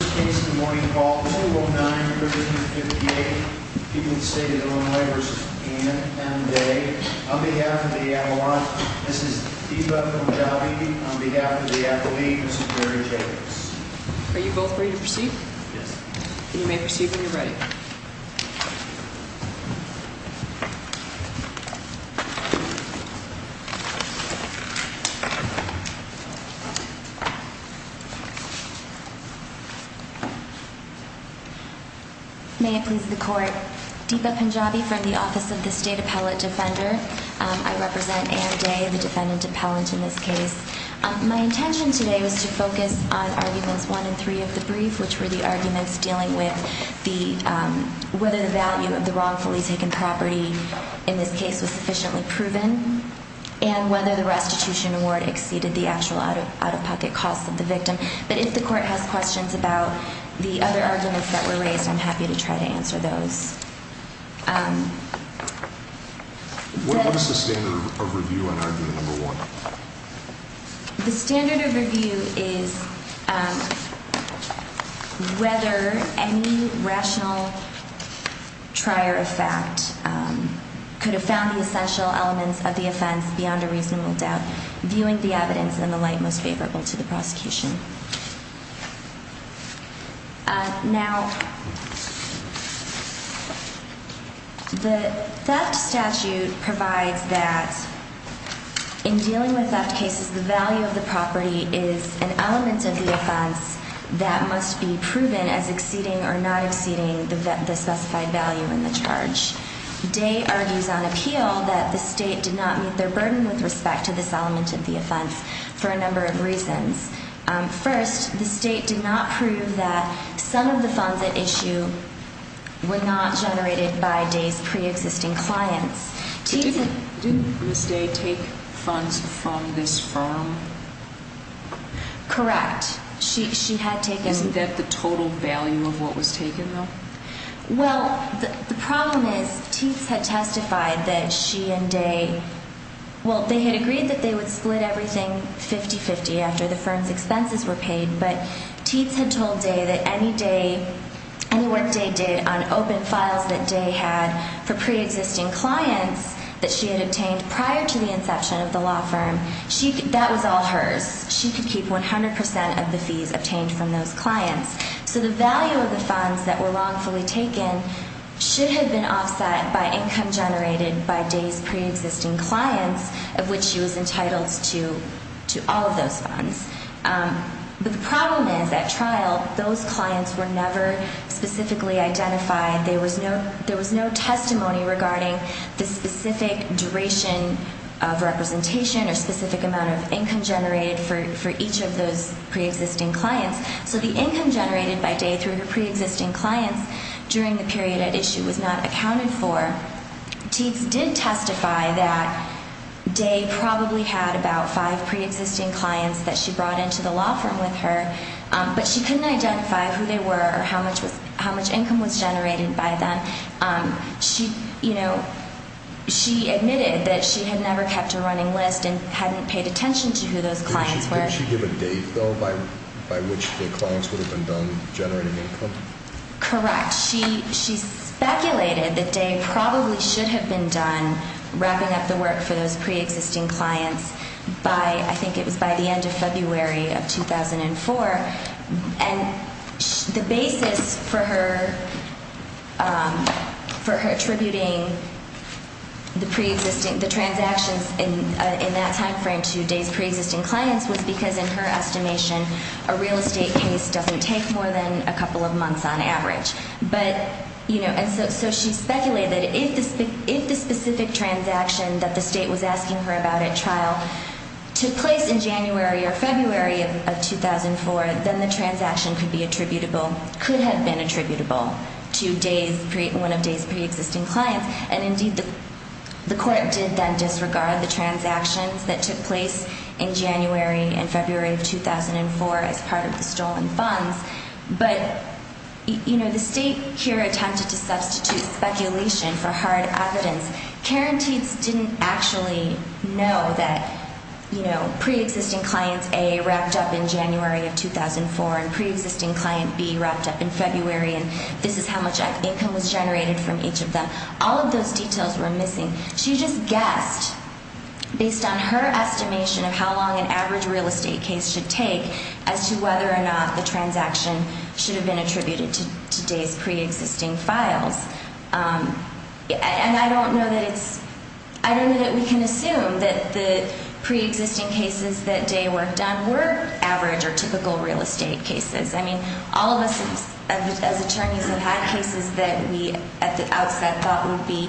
First case in the morning, call 419-358, people in the state of Illinois v. Anne v. Day. On behalf of the Avalon, Mrs. Diva Punjabi. On behalf of the athlete, Mrs. Mary Jacobs. Are you both ready to proceed? Yes. You may proceed when you're ready. May it please the court. Diva Punjabi from the Office of the State Appellate Defender. I represent Anne Day, the defendant appellant in this case. My intention today was to focus on arguments one and three of the brief, which were the arguments dealing with the, whether the value of the wrongfully taken property in this case was sufficiently proven, and whether the restitution award exceeded the actual out-of-pocket cost of the victim. But if the court has questions about the other arguments that were raised, I'm happy to try to answer those. What is the standard of review on argument number one? The standard of review is whether any rational trier of fact could have found the essential elements of the offense beyond a reasonable doubt, viewing the evidence in the light most favorable to the prosecution. Now, the theft statute provides that in dealing with theft cases, the value of the property is an element of the offense that must be proven as exceeding or not exceeding the specified value in the charge. Day argues on appeal that the state did not meet their burden with respect to this element of the offense for a number of reasons. First, the state did not prove that some of the funds at issue were not generated by Day's preexisting clients. Didn't Ms. Day take funds from this firm? Correct. She had taken... Well, the problem is Teats had testified that she and Day... Well, they had agreed that they would split everything 50-50 after the firm's expenses were paid, but Teats had told Day that any work Day did on open files that Day had for preexisting clients that she had obtained prior to the inception of the law firm, that was all hers. She could keep 100 percent of the fees obtained from those clients. So the value of the funds that were wrongfully taken should have been offset by income generated by Day's preexisting clients, of which she was entitled to all of those funds. But the problem is, at trial, those clients were never specifically identified. There was no testimony regarding the specific duration of representation or specific amount of income generated for each of those preexisting clients. So the income generated by Day through her preexisting clients during the period at issue was not accounted for. Teats did testify that Day probably had about five preexisting clients that she brought into the law firm with her, but she couldn't identify who they were or how much income was generated by them. She, you know, she admitted that she had never kept a running list and hadn't paid attention to who those clients were. Did she give a date, though, by which the clients would have been done generating income? Correct. She speculated that Day probably should have been done wrapping up the work for those preexisting clients by, I think it was by the end of February of 2004. And the basis for her attributing the transactions in that timeframe to Day's preexisting clients was because, in her estimation, a real estate case doesn't take more than a couple of months on average. But, you know, and so she speculated if the specific transaction that the State was asking her about at trial took place in January or February of 2004, then the transaction could be attributable, could have been attributable to Day's, one of Day's preexisting clients. And, indeed, the Court did then disregard the transactions that took place in January and February of 2004 as part of the stolen funds. But, you know, the State here attempted to substitute speculation for hard evidence. Karen Tietz didn't actually know that, you know, preexisting clients A wrapped up in January of 2004 and preexisting client B wrapped up in February and this is how much income was generated from each of them. All of those details were missing. She just guessed based on her estimation of how long an average real estate case should take as to whether or not the transaction should have been attributed to Day's preexisting files. And I don't know that it's, I don't know that we can assume that the preexisting cases that Day worked on were average or typical real estate cases. I mean, all of us as attorneys have had cases that we at the outset thought would be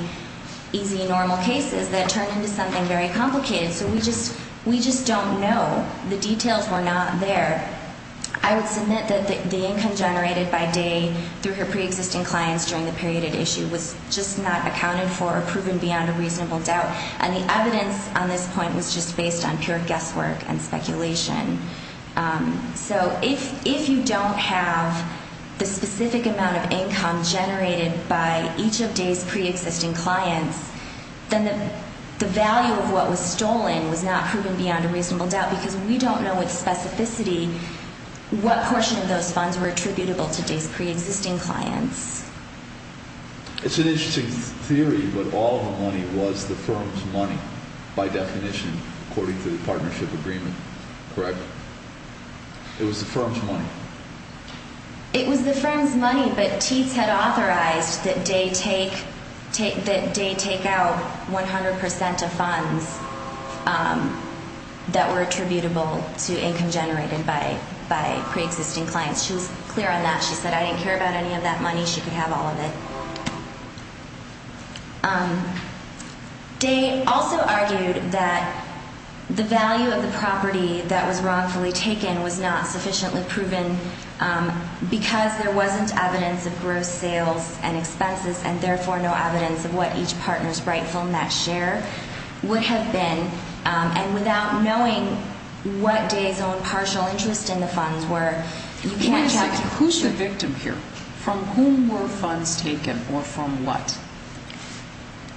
easy, normal cases that turned into something very complicated. So we just don't know. The details were not there. I would submit that the income generated by Day through her preexisting clients during the period at issue was just not accounted for or proven beyond a reasonable doubt. And the evidence on this point was just based on pure guesswork and speculation. So if you don't have the specific amount of income generated by each of Day's preexisting clients, then the value of what was stolen was not proven beyond a reasonable doubt because we don't know with specificity what portion of those funds were attributable to Day's preexisting clients. It's an interesting theory, but all of the money was the firm's money by definition according to the partnership agreement, correct? It was the firm's money. It was the firm's money, but Teats had authorized that Day take out 100 percent of funds that were attributable to income generated by preexisting clients. She was clear on that. She said, I didn't care about any of that money. She could have all of it. Day also argued that the value of the property that was wrongfully taken was not sufficiently proven because there wasn't evidence of gross sales and expenses and therefore no evidence of what each partner's rightful net share would have been. And without knowing what Day's own partial interest in the funds were, you can't track it. Who's the victim here? From whom were funds taken or from what?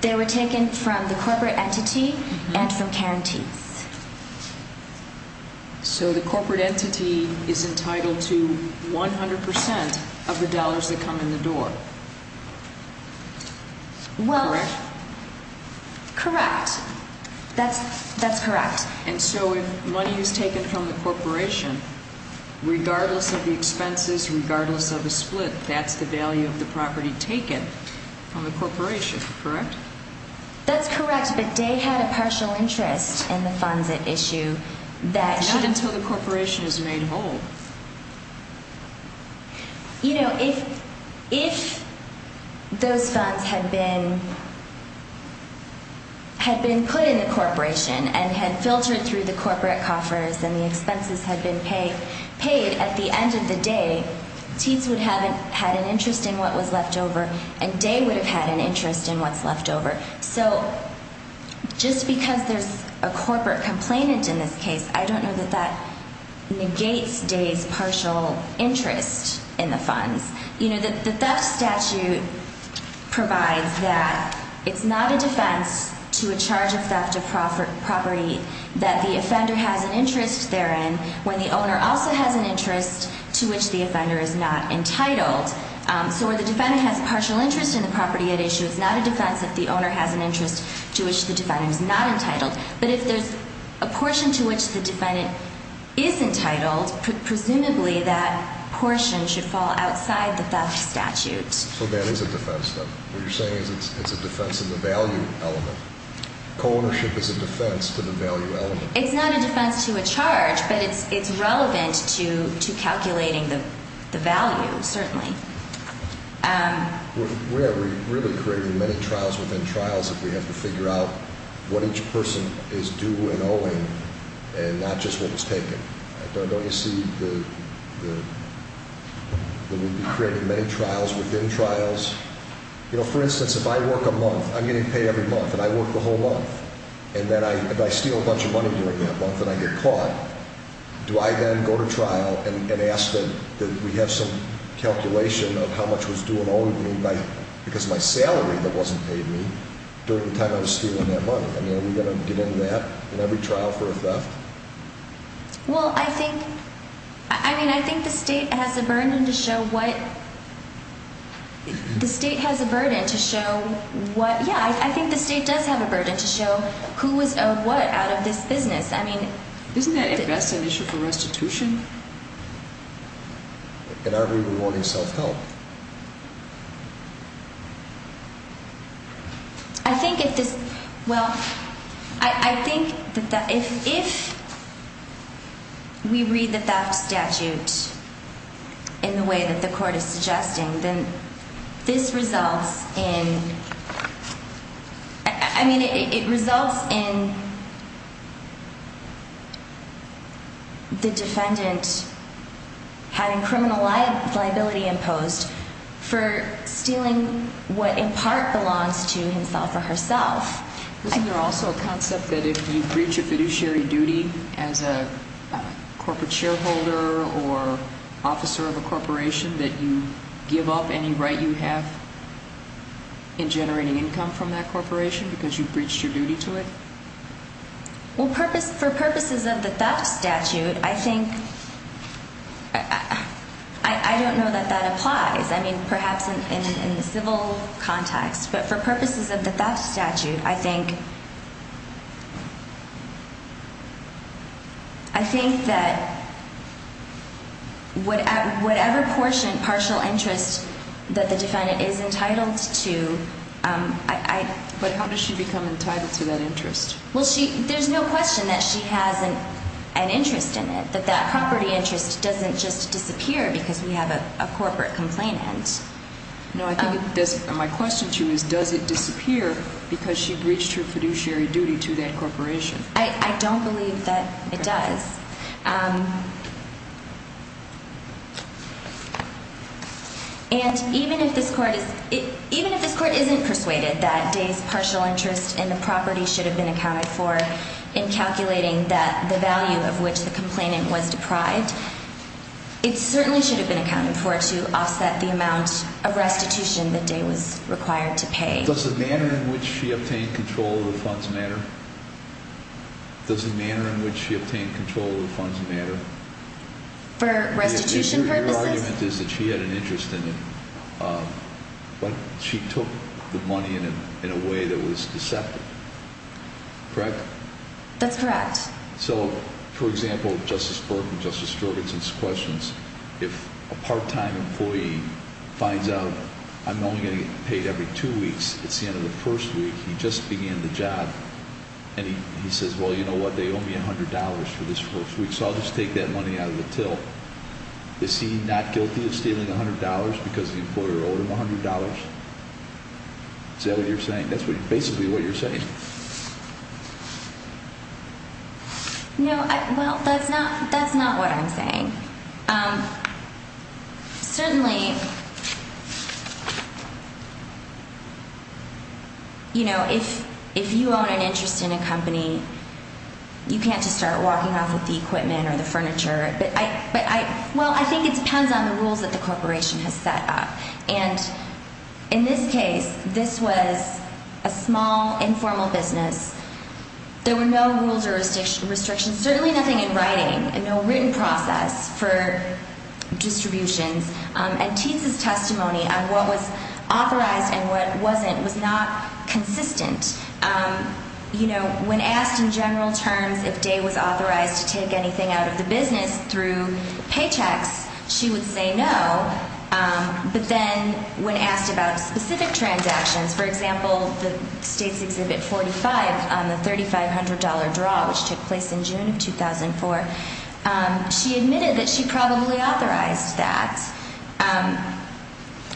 They were taken from the corporate entity and from Karen Teats. So the corporate entity is entitled to 100 percent of the dollars that come in the door, correct? Well, correct. That's correct. And so if money is taken from the corporation, regardless of the expenses, regardless of the split, that's the value of the property taken from the corporation, correct? That's correct, but Day had a partial interest in the funds at issue that… Not until the corporation is made whole. You know, if those funds had been put in the corporation and had filtered through the corporate coffers and the expenses had been paid, at the end of the day, Teats would have had an interest in what was left over and Day would have had an interest in what's left over. So just because there's a corporate complainant in this case, I don't know that that negates Day's partial interest in the funds. You know, the theft statute provides that it's not a defense to a charge of theft of property that the offender has an interest therein when the owner also has an interest to which the offender is not entitled. So where the defendant has a partial interest in the property at issue, it's not a defense if the owner has an interest to which the defendant is not entitled. But if there's a portion to which the defendant is entitled, presumably that portion should fall outside the theft statute. So that is a defense, though. What you're saying is it's a defense of the value element. Co-ownership is a defense to the value element. It's not a defense to a charge, but it's relevant to calculating the value, certainly. We are really creating many trials within trials if we have to figure out what each person is due and owing and not just what was taken. Don't you see that we'd be creating many trials within trials? You know, for instance, if I work a month, I'm getting paid every month, and I work the whole month, and then I steal a bunch of money during that month and I get caught, do I then go to trial and ask that we have some calculation of how much was due and owing me because of my salary that wasn't paid me during the time I was stealing that money? I mean, are we going to get into that in every trial for a theft? Well, I think the State has a burden to show what – yeah, I think the State does have a burden to show who was owed what out of this business. Isn't that a vested issue for restitution? In our view, we're rewarding self-help. I think if this – well, I think that if we read the theft statute in the way that the Court is suggesting, then this results in – I mean, it results in the defendant having criminal liability imposed. For stealing what in part belongs to himself or herself. Isn't there also a concept that if you breach a fiduciary duty as a corporate shareholder or officer of a corporation that you give up any right you have in generating income from that corporation because you breached your duty to it? Well, for purposes of the theft statute, I think – I don't know that that applies. I mean, perhaps in the civil context. But for purposes of the theft statute, I think – I think that whatever portion, partial interest that the defendant is entitled to, I – But how does she become entitled to that interest? Well, she – there's no question that she has an interest in it, that that property interest doesn't just disappear because we have a corporate complainant. No, I think it doesn't – my question to you is does it disappear because she breached her fiduciary duty to that corporation? I don't believe that it does. And even if this court is – even if this court isn't persuaded that Day's partial interest in the property should have been accounted for in calculating that – the value of which the complainant was deprived, it certainly should have been accounted for to offset the amount of restitution that Day was required to pay. Does the manner in which she obtained control of the funds matter? Does the manner in which she obtained control of the funds matter? For restitution purposes? Your argument is that she had an interest in it, but she took the money in a way that was deceptive, correct? That's correct. So, for example, Justice Berg and Justice Jorgensen's questions, if a part-time employee finds out I'm only going to get paid every two weeks, it's the end of the first week, he just began the job, and he says, well, you know what, they owe me $100 for this first week, so I'll just take that money out of the till. Is he not guilty of stealing $100 because the employer owed him $100? Is that what you're saying? That's basically what you're saying. No, well, that's not what I'm saying. Certainly, you know, if you own an interest in a company, you can't just start walking off with the equipment or the furniture. Well, I think it depends on the rules that the corporation has set up. And in this case, this was a small, informal business. There were no rules or restrictions, certainly nothing in writing, and no written process for distributions. And Tease's testimony on what was authorized and what wasn't was not consistent. You know, when asked in general terms if Day was authorized to take anything out of the business through paychecks, she would say no. But then when asked about specific transactions, for example, the State's Exhibit 45 on the $3,500 draw, which took place in June of 2004, she admitted that she probably authorized that.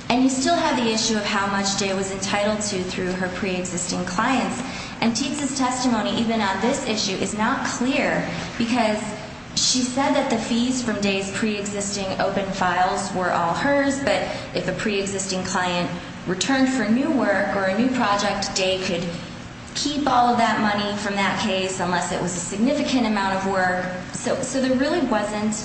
And you still have the issue of how much Day was entitled to through her preexisting clients. And Tease's testimony, even on this issue, is not clear because she said that the fees from Day's preexisting open files were all hers. But if a preexisting client returned for new work or a new project, Day could keep all of that money from that case unless it was a significant amount of work. So there really wasn't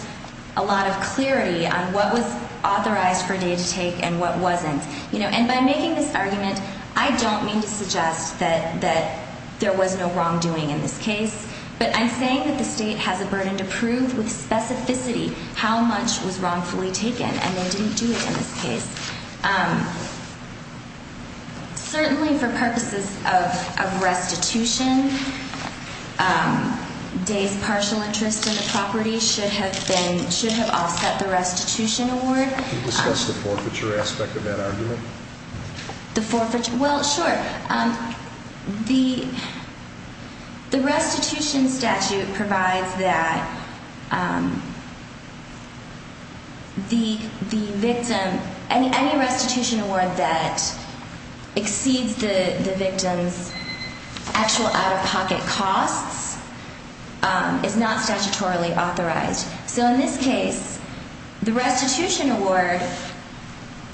a lot of clarity on what was authorized for Day to take and what wasn't. And by making this argument, I don't mean to suggest that there was no wrongdoing in this case. But I'm saying that the State has a burden to prove with specificity how much was wrongfully taken, and they didn't do it in this case. Certainly for purposes of restitution, Day's partial interest in the property should have offset the restitution award. Can you discuss the forfeiture aspect of that argument? Well, sure. The restitution statute provides that any restitution award that exceeds the victim's actual out-of-pocket costs is not statutorily authorized. So in this case, the restitution award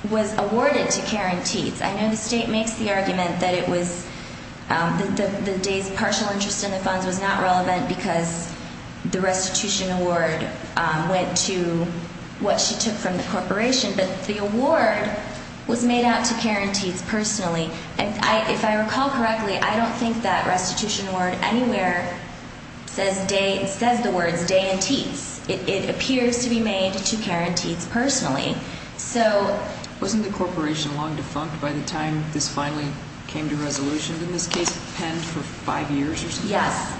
was awarded to Karen Teets. I know the State makes the argument that Day's partial interest in the funds was not relevant because the restitution award went to what she took from the corporation. But the award was made out to Karen Teets personally. And if I recall correctly, I don't think that restitution award anywhere says the words Day and Teets. It appears to be made to Karen Teets personally. Wasn't the corporation long defunct by the time this finally came to resolution? Didn't this case pend for five years or something? Yes,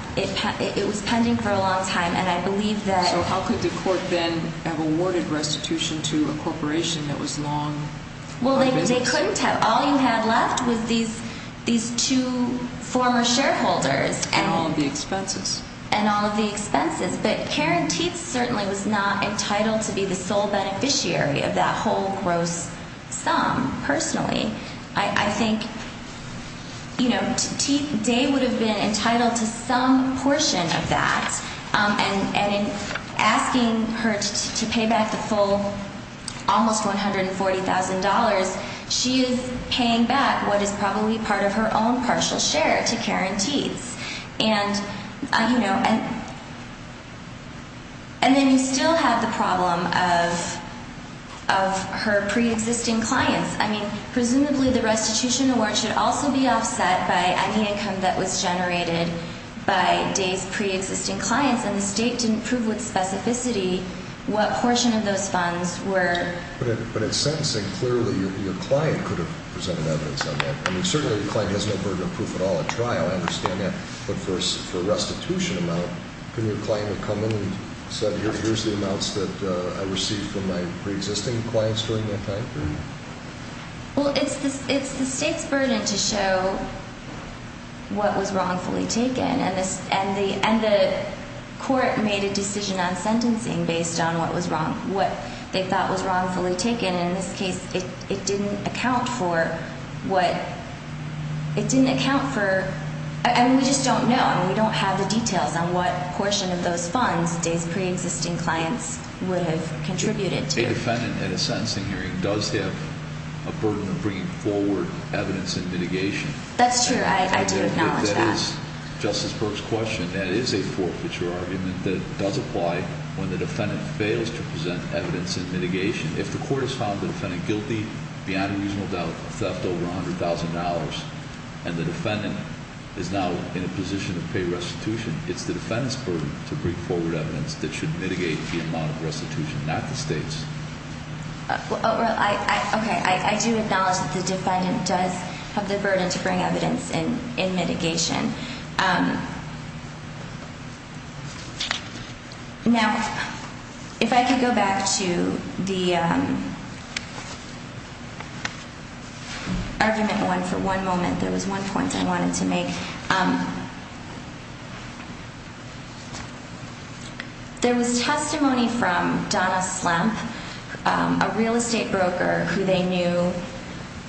it was pending for a long time. So how could the court then have awarded restitution to a corporation that was long out of business? Well, they couldn't have. All you had left was these two former shareholders. And all of the expenses. And all of the expenses. But Karen Teets certainly was not entitled to be the sole beneficiary of that whole gross sum, personally. I think, you know, Day would have been entitled to some portion of that. And in asking her to pay back the full almost $140,000, she is paying back what is probably part of her own partial share to Karen Teets. And, you know, and then you still have the problem of her preexisting clients. I mean, presumably the restitution award should also be offset by any income that was generated by Day's preexisting clients. And the State didn't prove with specificity what portion of those funds were. But in sentencing, clearly your client could have presented evidence on that. I mean, certainly the client has no burden of proof at all at trial. I understand that. But for a restitution amount, couldn't your client have come in and said, Here's the amounts that I received from my preexisting clients during that time period? Well, it's the State's burden to show what was wrongfully taken. And the court made a decision on sentencing based on what they thought was wrongfully taken. And in this case, it didn't account for what – it didn't account for – and we just don't know. We don't have the details on what portion of those funds Day's preexisting clients would have contributed to. A defendant in a sentencing hearing does have a burden of bringing forward evidence in mitigation. That's true. I do acknowledge that. But that is Justice Burke's question. That is a forfeiture argument that does apply when the defendant fails to present evidence in mitigation. If the court has found the defendant guilty beyond a reasonable doubt of theft over $100,000 and the defendant is now in a position to pay restitution, it's the defendant's burden to bring forward evidence that should mitigate the amount of restitution, not the State's. Okay. I do acknowledge that the defendant does have the burden to bring evidence in mitigation. Now, if I could go back to the argument for one moment, there was one point I wanted to make. There was testimony from Donna Slemp, a real estate broker who they knew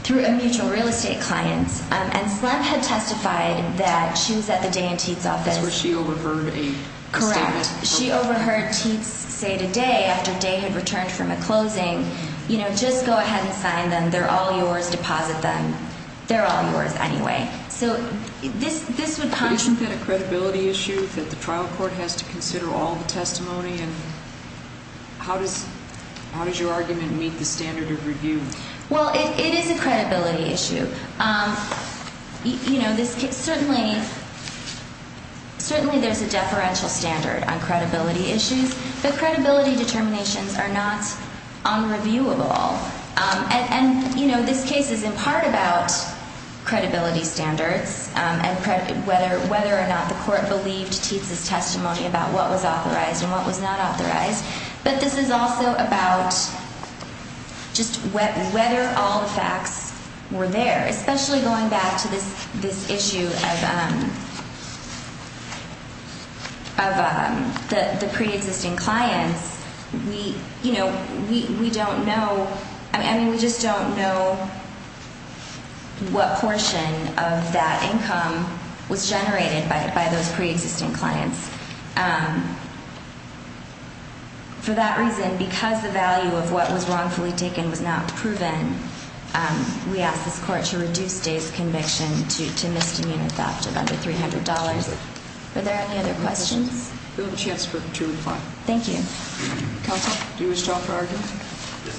through a mutual real estate client. And Slemp had testified that she was at the Day and Teats office. That's where she overheard a statement. Correct. She overheard Teats say to Day after Day had returned from a closing, you know, just go ahead and sign them. They're all yours. Deposit them. They're all yours anyway. But isn't that a credibility issue that the trial court has to consider all the testimony? And how does your argument meet the standard of review? Well, it is a credibility issue. You know, certainly there's a deferential standard on credibility issues, but credibility determinations are not unreviewable. And, you know, this case is in part about credibility standards and whether or not the court believed Teats' testimony about what was authorized and what was not authorized. But this is also about just whether all the facts were there, especially going back to this issue of the preexisting clients. We, you know, we don't know. I mean, we just don't know what portion of that income was generated by those preexisting clients. For that reason, because the value of what was wrongfully taken was not proven, we ask this court to reduce Day's conviction to misdemeanor theft of under $300. Are there any other questions? We'll have a chance to reply. Thank you. Counsel, do you wish to offer arguments? Yes.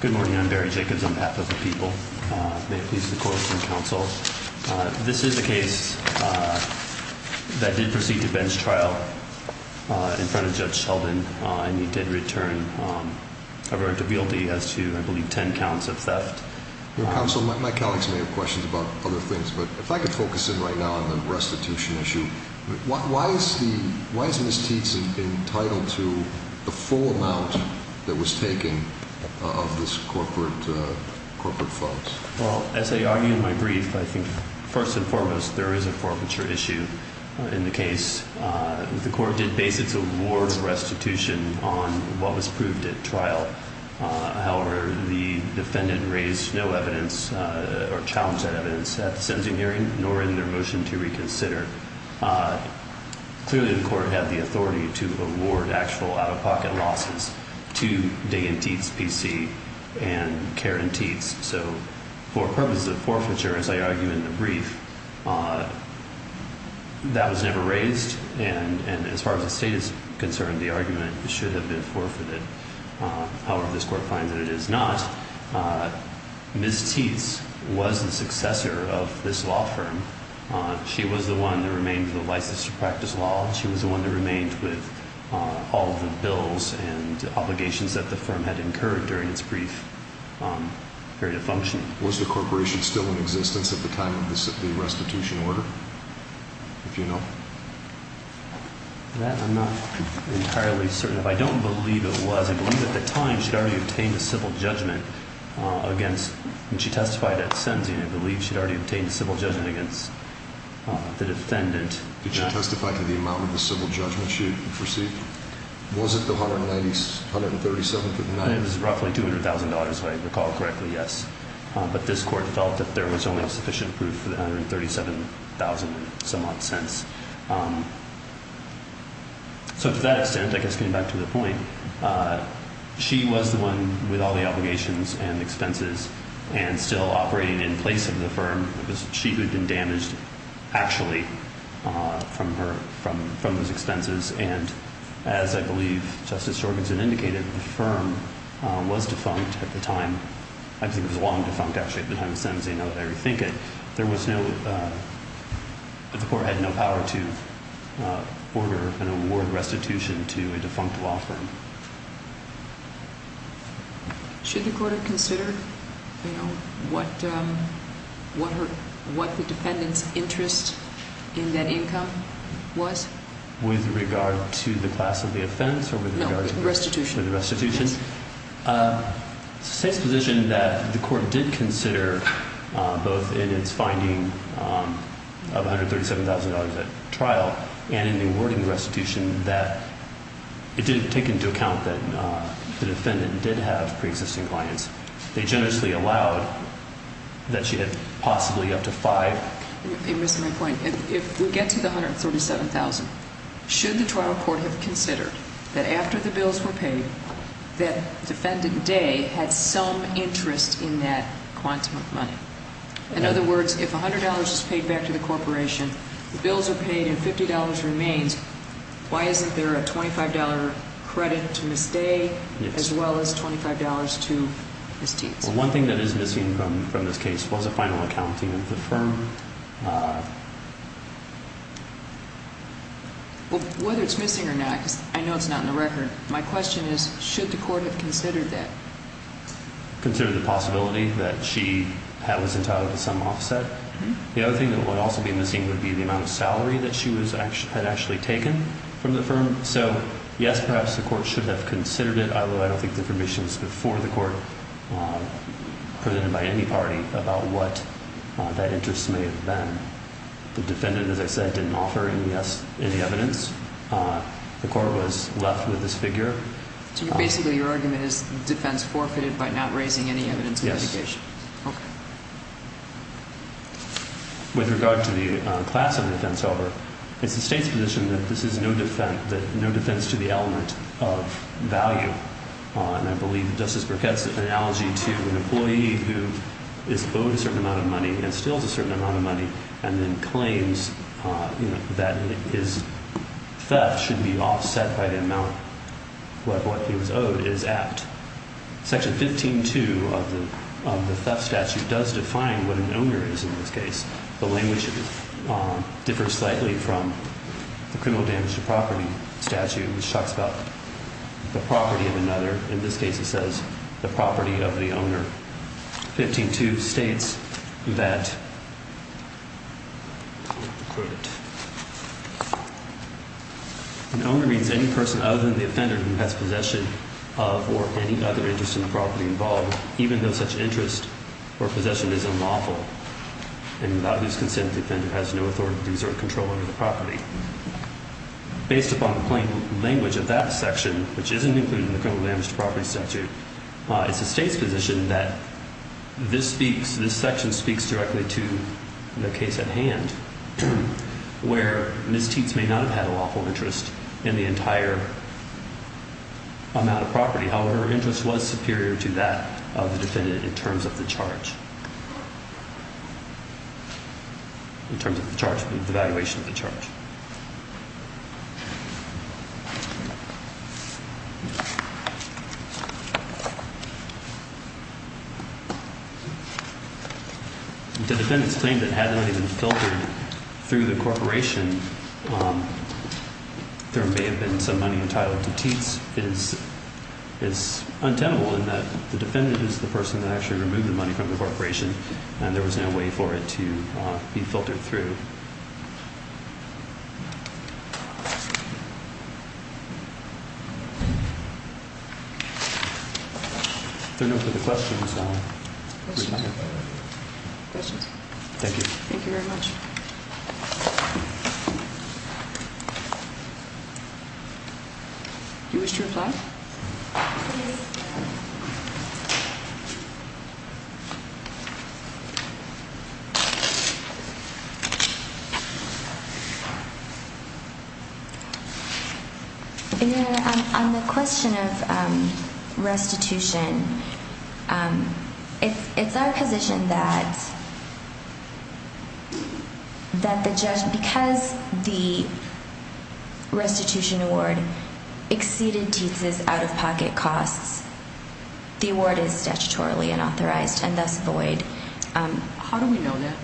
Good morning. I'm Barry Jacobs on behalf of the people. May it please the court and counsel, this is the case that did proceed to bench trial in front of Judge Sheldon, and he did return a verdict of guilty as to, I believe, 10 counts of theft. Counsel, my colleagues may have questions about other things, but if I could focus in right now on the restitution issue, why is Ms. Teats entitled to the full amount that was taken of this corporate funds? Well, as I argue in my brief, I think, first and foremost, there is a forfeiture issue in the case. The court did base its award restitution on what was proved at trial. However, the defendant raised no evidence or challenged that evidence at the sentencing hearing, nor in their motion to reconsider. Clearly, the court had the authority to award actual out-of-pocket losses to Day and Teats PC and Karen Teats. So for purposes of forfeiture, as I argue in the brief, that was never raised, and as far as the state is concerned, the argument should have been forfeited. However, this court finds that it is not. Ms. Teats was the successor of this law firm. She was the one that remained with the license to practice law. She was the one that remained with all of the bills and obligations that the firm had incurred during its brief period of functioning. Was the corporation still in existence at the time of the restitution order, if you know? I'm not entirely certain. If I don't believe it was, I believe at the time she had already obtained a civil judgment against when she testified at sentencing, I believe she had already obtained a civil judgment against the defendant. Did she testify to the amount of the civil judgment she had received? Was it the $137,000? It was roughly $200,000, if I recall correctly, yes. But this court felt that there was only sufficient proof for the $137,000 and somewhat cents. So to that extent, I guess getting back to the point, she was the one with all the obligations and expenses and still operating in place of the firm. It was she who had been damaged, actually, from those expenses. And as I believe Justice Jorgensen indicated, the firm was defunct at the time. I think it was long defunct, actually, at the time of sentencing, now that I rethink it. There was no—the court had no power to order an award restitution to a defunct law firm. Should the court have considered what the defendant's interest in that income was? With regard to the class of the offense or with regard to the restitution? No, the restitution. The restitution? Yes. It's the same position that the court did consider both in its finding of $137,000 at trial and in the awarding restitution that it didn't take into account that the defendant did have preexisting clients. They generously allowed that she had possibly up to $5,000. You missed my point. If we get to the $137,000, should the trial court have considered that after the bills were paid, that defendant Day had some interest in that quantum of money? In other words, if $100 is paid back to the corporation, the bills are paid and $50 remains, why isn't there a $25 credit to Ms. Day as well as $25 to Ms. Teets? Well, one thing that is missing from this case was a final accounting of the firm. Whether it's missing or not, because I know it's not in the record, my question is, should the court have considered that? There's a possibility that she was entitled to some offset. The other thing that would also be missing would be the amount of salary that she had actually taken from the firm. So, yes, perhaps the court should have considered it, although I don't think the information was before the court presented by any party about what that interest may have been. The defendant, as I said, didn't offer any evidence. The court was left with this figure. So basically your argument is the defense forfeited by not raising any evidence of litigation? Yes. Okay. With regard to the class of defense, however, it's the state's position that this is no defense to the element of value. And I believe Justice Burkett's analogy to an employee who is owed a certain amount of money and steals a certain amount of money and then claims that his theft should be offset by the amount of what he was owed is apt. Section 15-2 of the theft statute does define what an owner is in this case. The language differs slightly from the criminal damage to property statute, which talks about the property of another. In this case it says the property of the owner. Section 15-2 states that an owner means any person other than the offender who has possession of or any other interest in the property involved, even though such interest or possession is unlawful and without whose consent the offender has no authority to exert control over the property. Based upon the plain language of that section, which isn't included in the criminal damage to property statute, it's the state's position that this section speaks directly to the case at hand where Ms. Tietz may not have had a lawful interest in the entire amount of property. However, her interest was superior to that of the defendant in terms of the charge, in terms of the charge, the valuation of the charge. The defendant's claim that had the money been filtered through the corporation, there may have been some money entitled to Tietz is untenable in that the defendant is the person that actually removed the money from the corporation and there was no way for it to be filtered through. There are no further questions. Questions? Thank you. Thank you very much. You wish to reply? No. On the question of restitution, it's our position that because the restitution award exceeded Tietz's out-of-pocket costs, the award is statutorily unauthorized and thus void. How do we know that?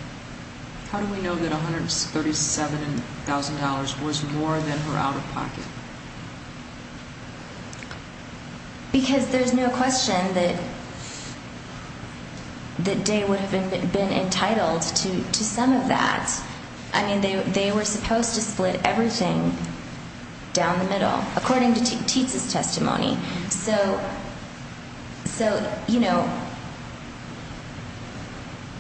How do we know that $137,000 was more than her out-of-pocket? Because there's no question that Day would have been entitled to some of that. I mean, they were supposed to split everything down the middle, according to Tietz's testimony. So, you know,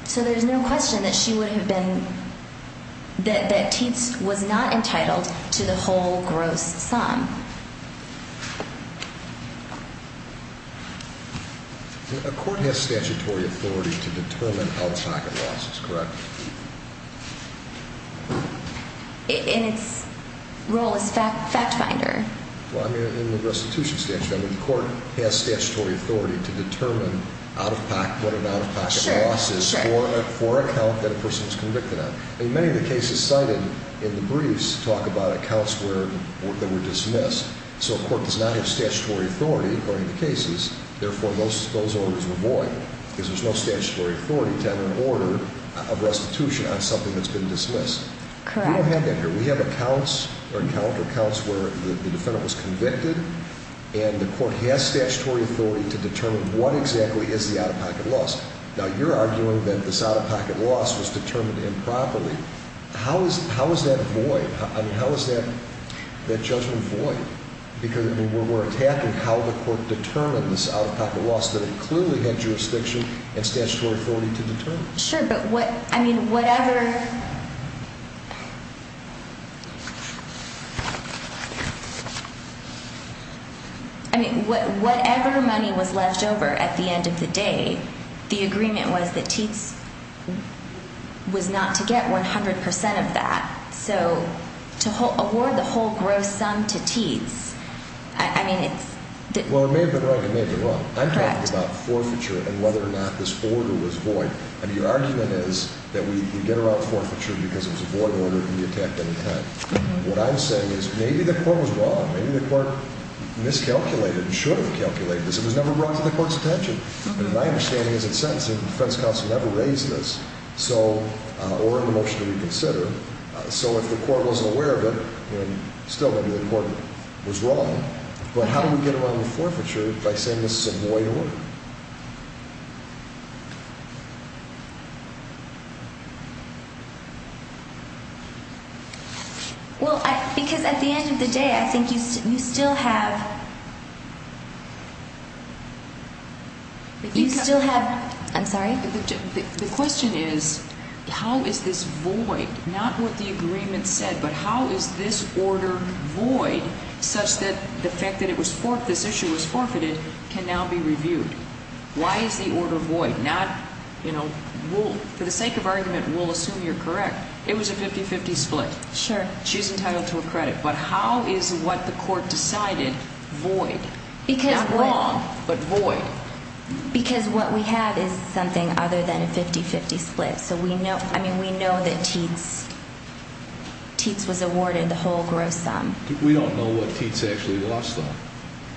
so there's no question that she would have been – that Tietz was not entitled to the whole gross sum. A court has statutory authority to determine out-of-pocket losses, correct? And its role is fact finder. Well, I mean, in the restitution statute, I mean, the court has statutory authority to determine out-of-pocket losses for an account that a person was convicted on. I mean, many of the cases cited in the briefs talk about accounts that were dismissed. So a court does not have statutory authority, according to cases. Therefore, those orders were void because there's no statutory authority to have an order of restitution on something that's been dismissed. Correct. We don't have that here. We have accounts or counter-accounts where the defendant was convicted, and the court has statutory authority to determine what exactly is the out-of-pocket loss. Now, you're arguing that this out-of-pocket loss was determined improperly. How is that void? I mean, how is that judgment void? Because we're attacking how the court determined this out-of-pocket loss that it clearly had jurisdiction and statutory authority to determine. Sure, but what – I mean, whatever – I mean, whatever money was left over at the end of the day, the agreement was that Teats was not to get 100 percent of that. So to award the whole gross sum to Teats, I mean, it's – Well, it may have been right. It may have been wrong. Correct. I'm talking about forfeiture and whether or not this order was void. I mean, your argument is that we get around forfeiture because it was a void order and we attacked any time. What I'm saying is maybe the court was wrong. Maybe the court miscalculated and should have calculated this. It was never brought to the court's attention. My understanding is that sentencing – the defense counsel never raised this, so – or in the motion to reconsider. So if the court wasn't aware of it, then still maybe the court was wrong. But how do we get around the forfeiture by saying this is a void order? Well, because at the end of the day, I think you still have – you still have – I'm sorry? The question is how is this void? Not what the agreement said, but how is this order void such that the fact that it was – this issue was forfeited can now be reviewed? Why is the order void? Not – for the sake of argument, we'll assume you're correct. It was a 50-50 split. Sure. She's entitled to a credit. But how is what the court decided void? Because – Not wrong, but void. Because what we have is something other than a 50-50 split. So we know – I mean, we know that Teets – Teets was awarded the whole gross sum. We don't know what Teets actually lost, though.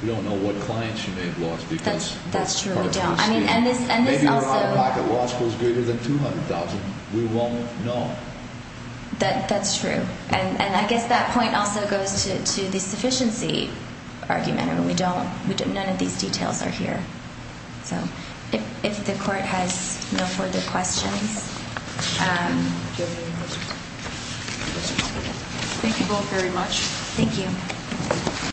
We don't know what clients she may have lost because – That's true. We don't. I mean, and this also – Maybe her out-of-pocket loss was greater than $200,000. We won't know. That's true. And I guess that point also goes to the sufficiency argument. I mean, we don't – none of these details are here. So if the court has no further questions. Thank you both very much. Thank you.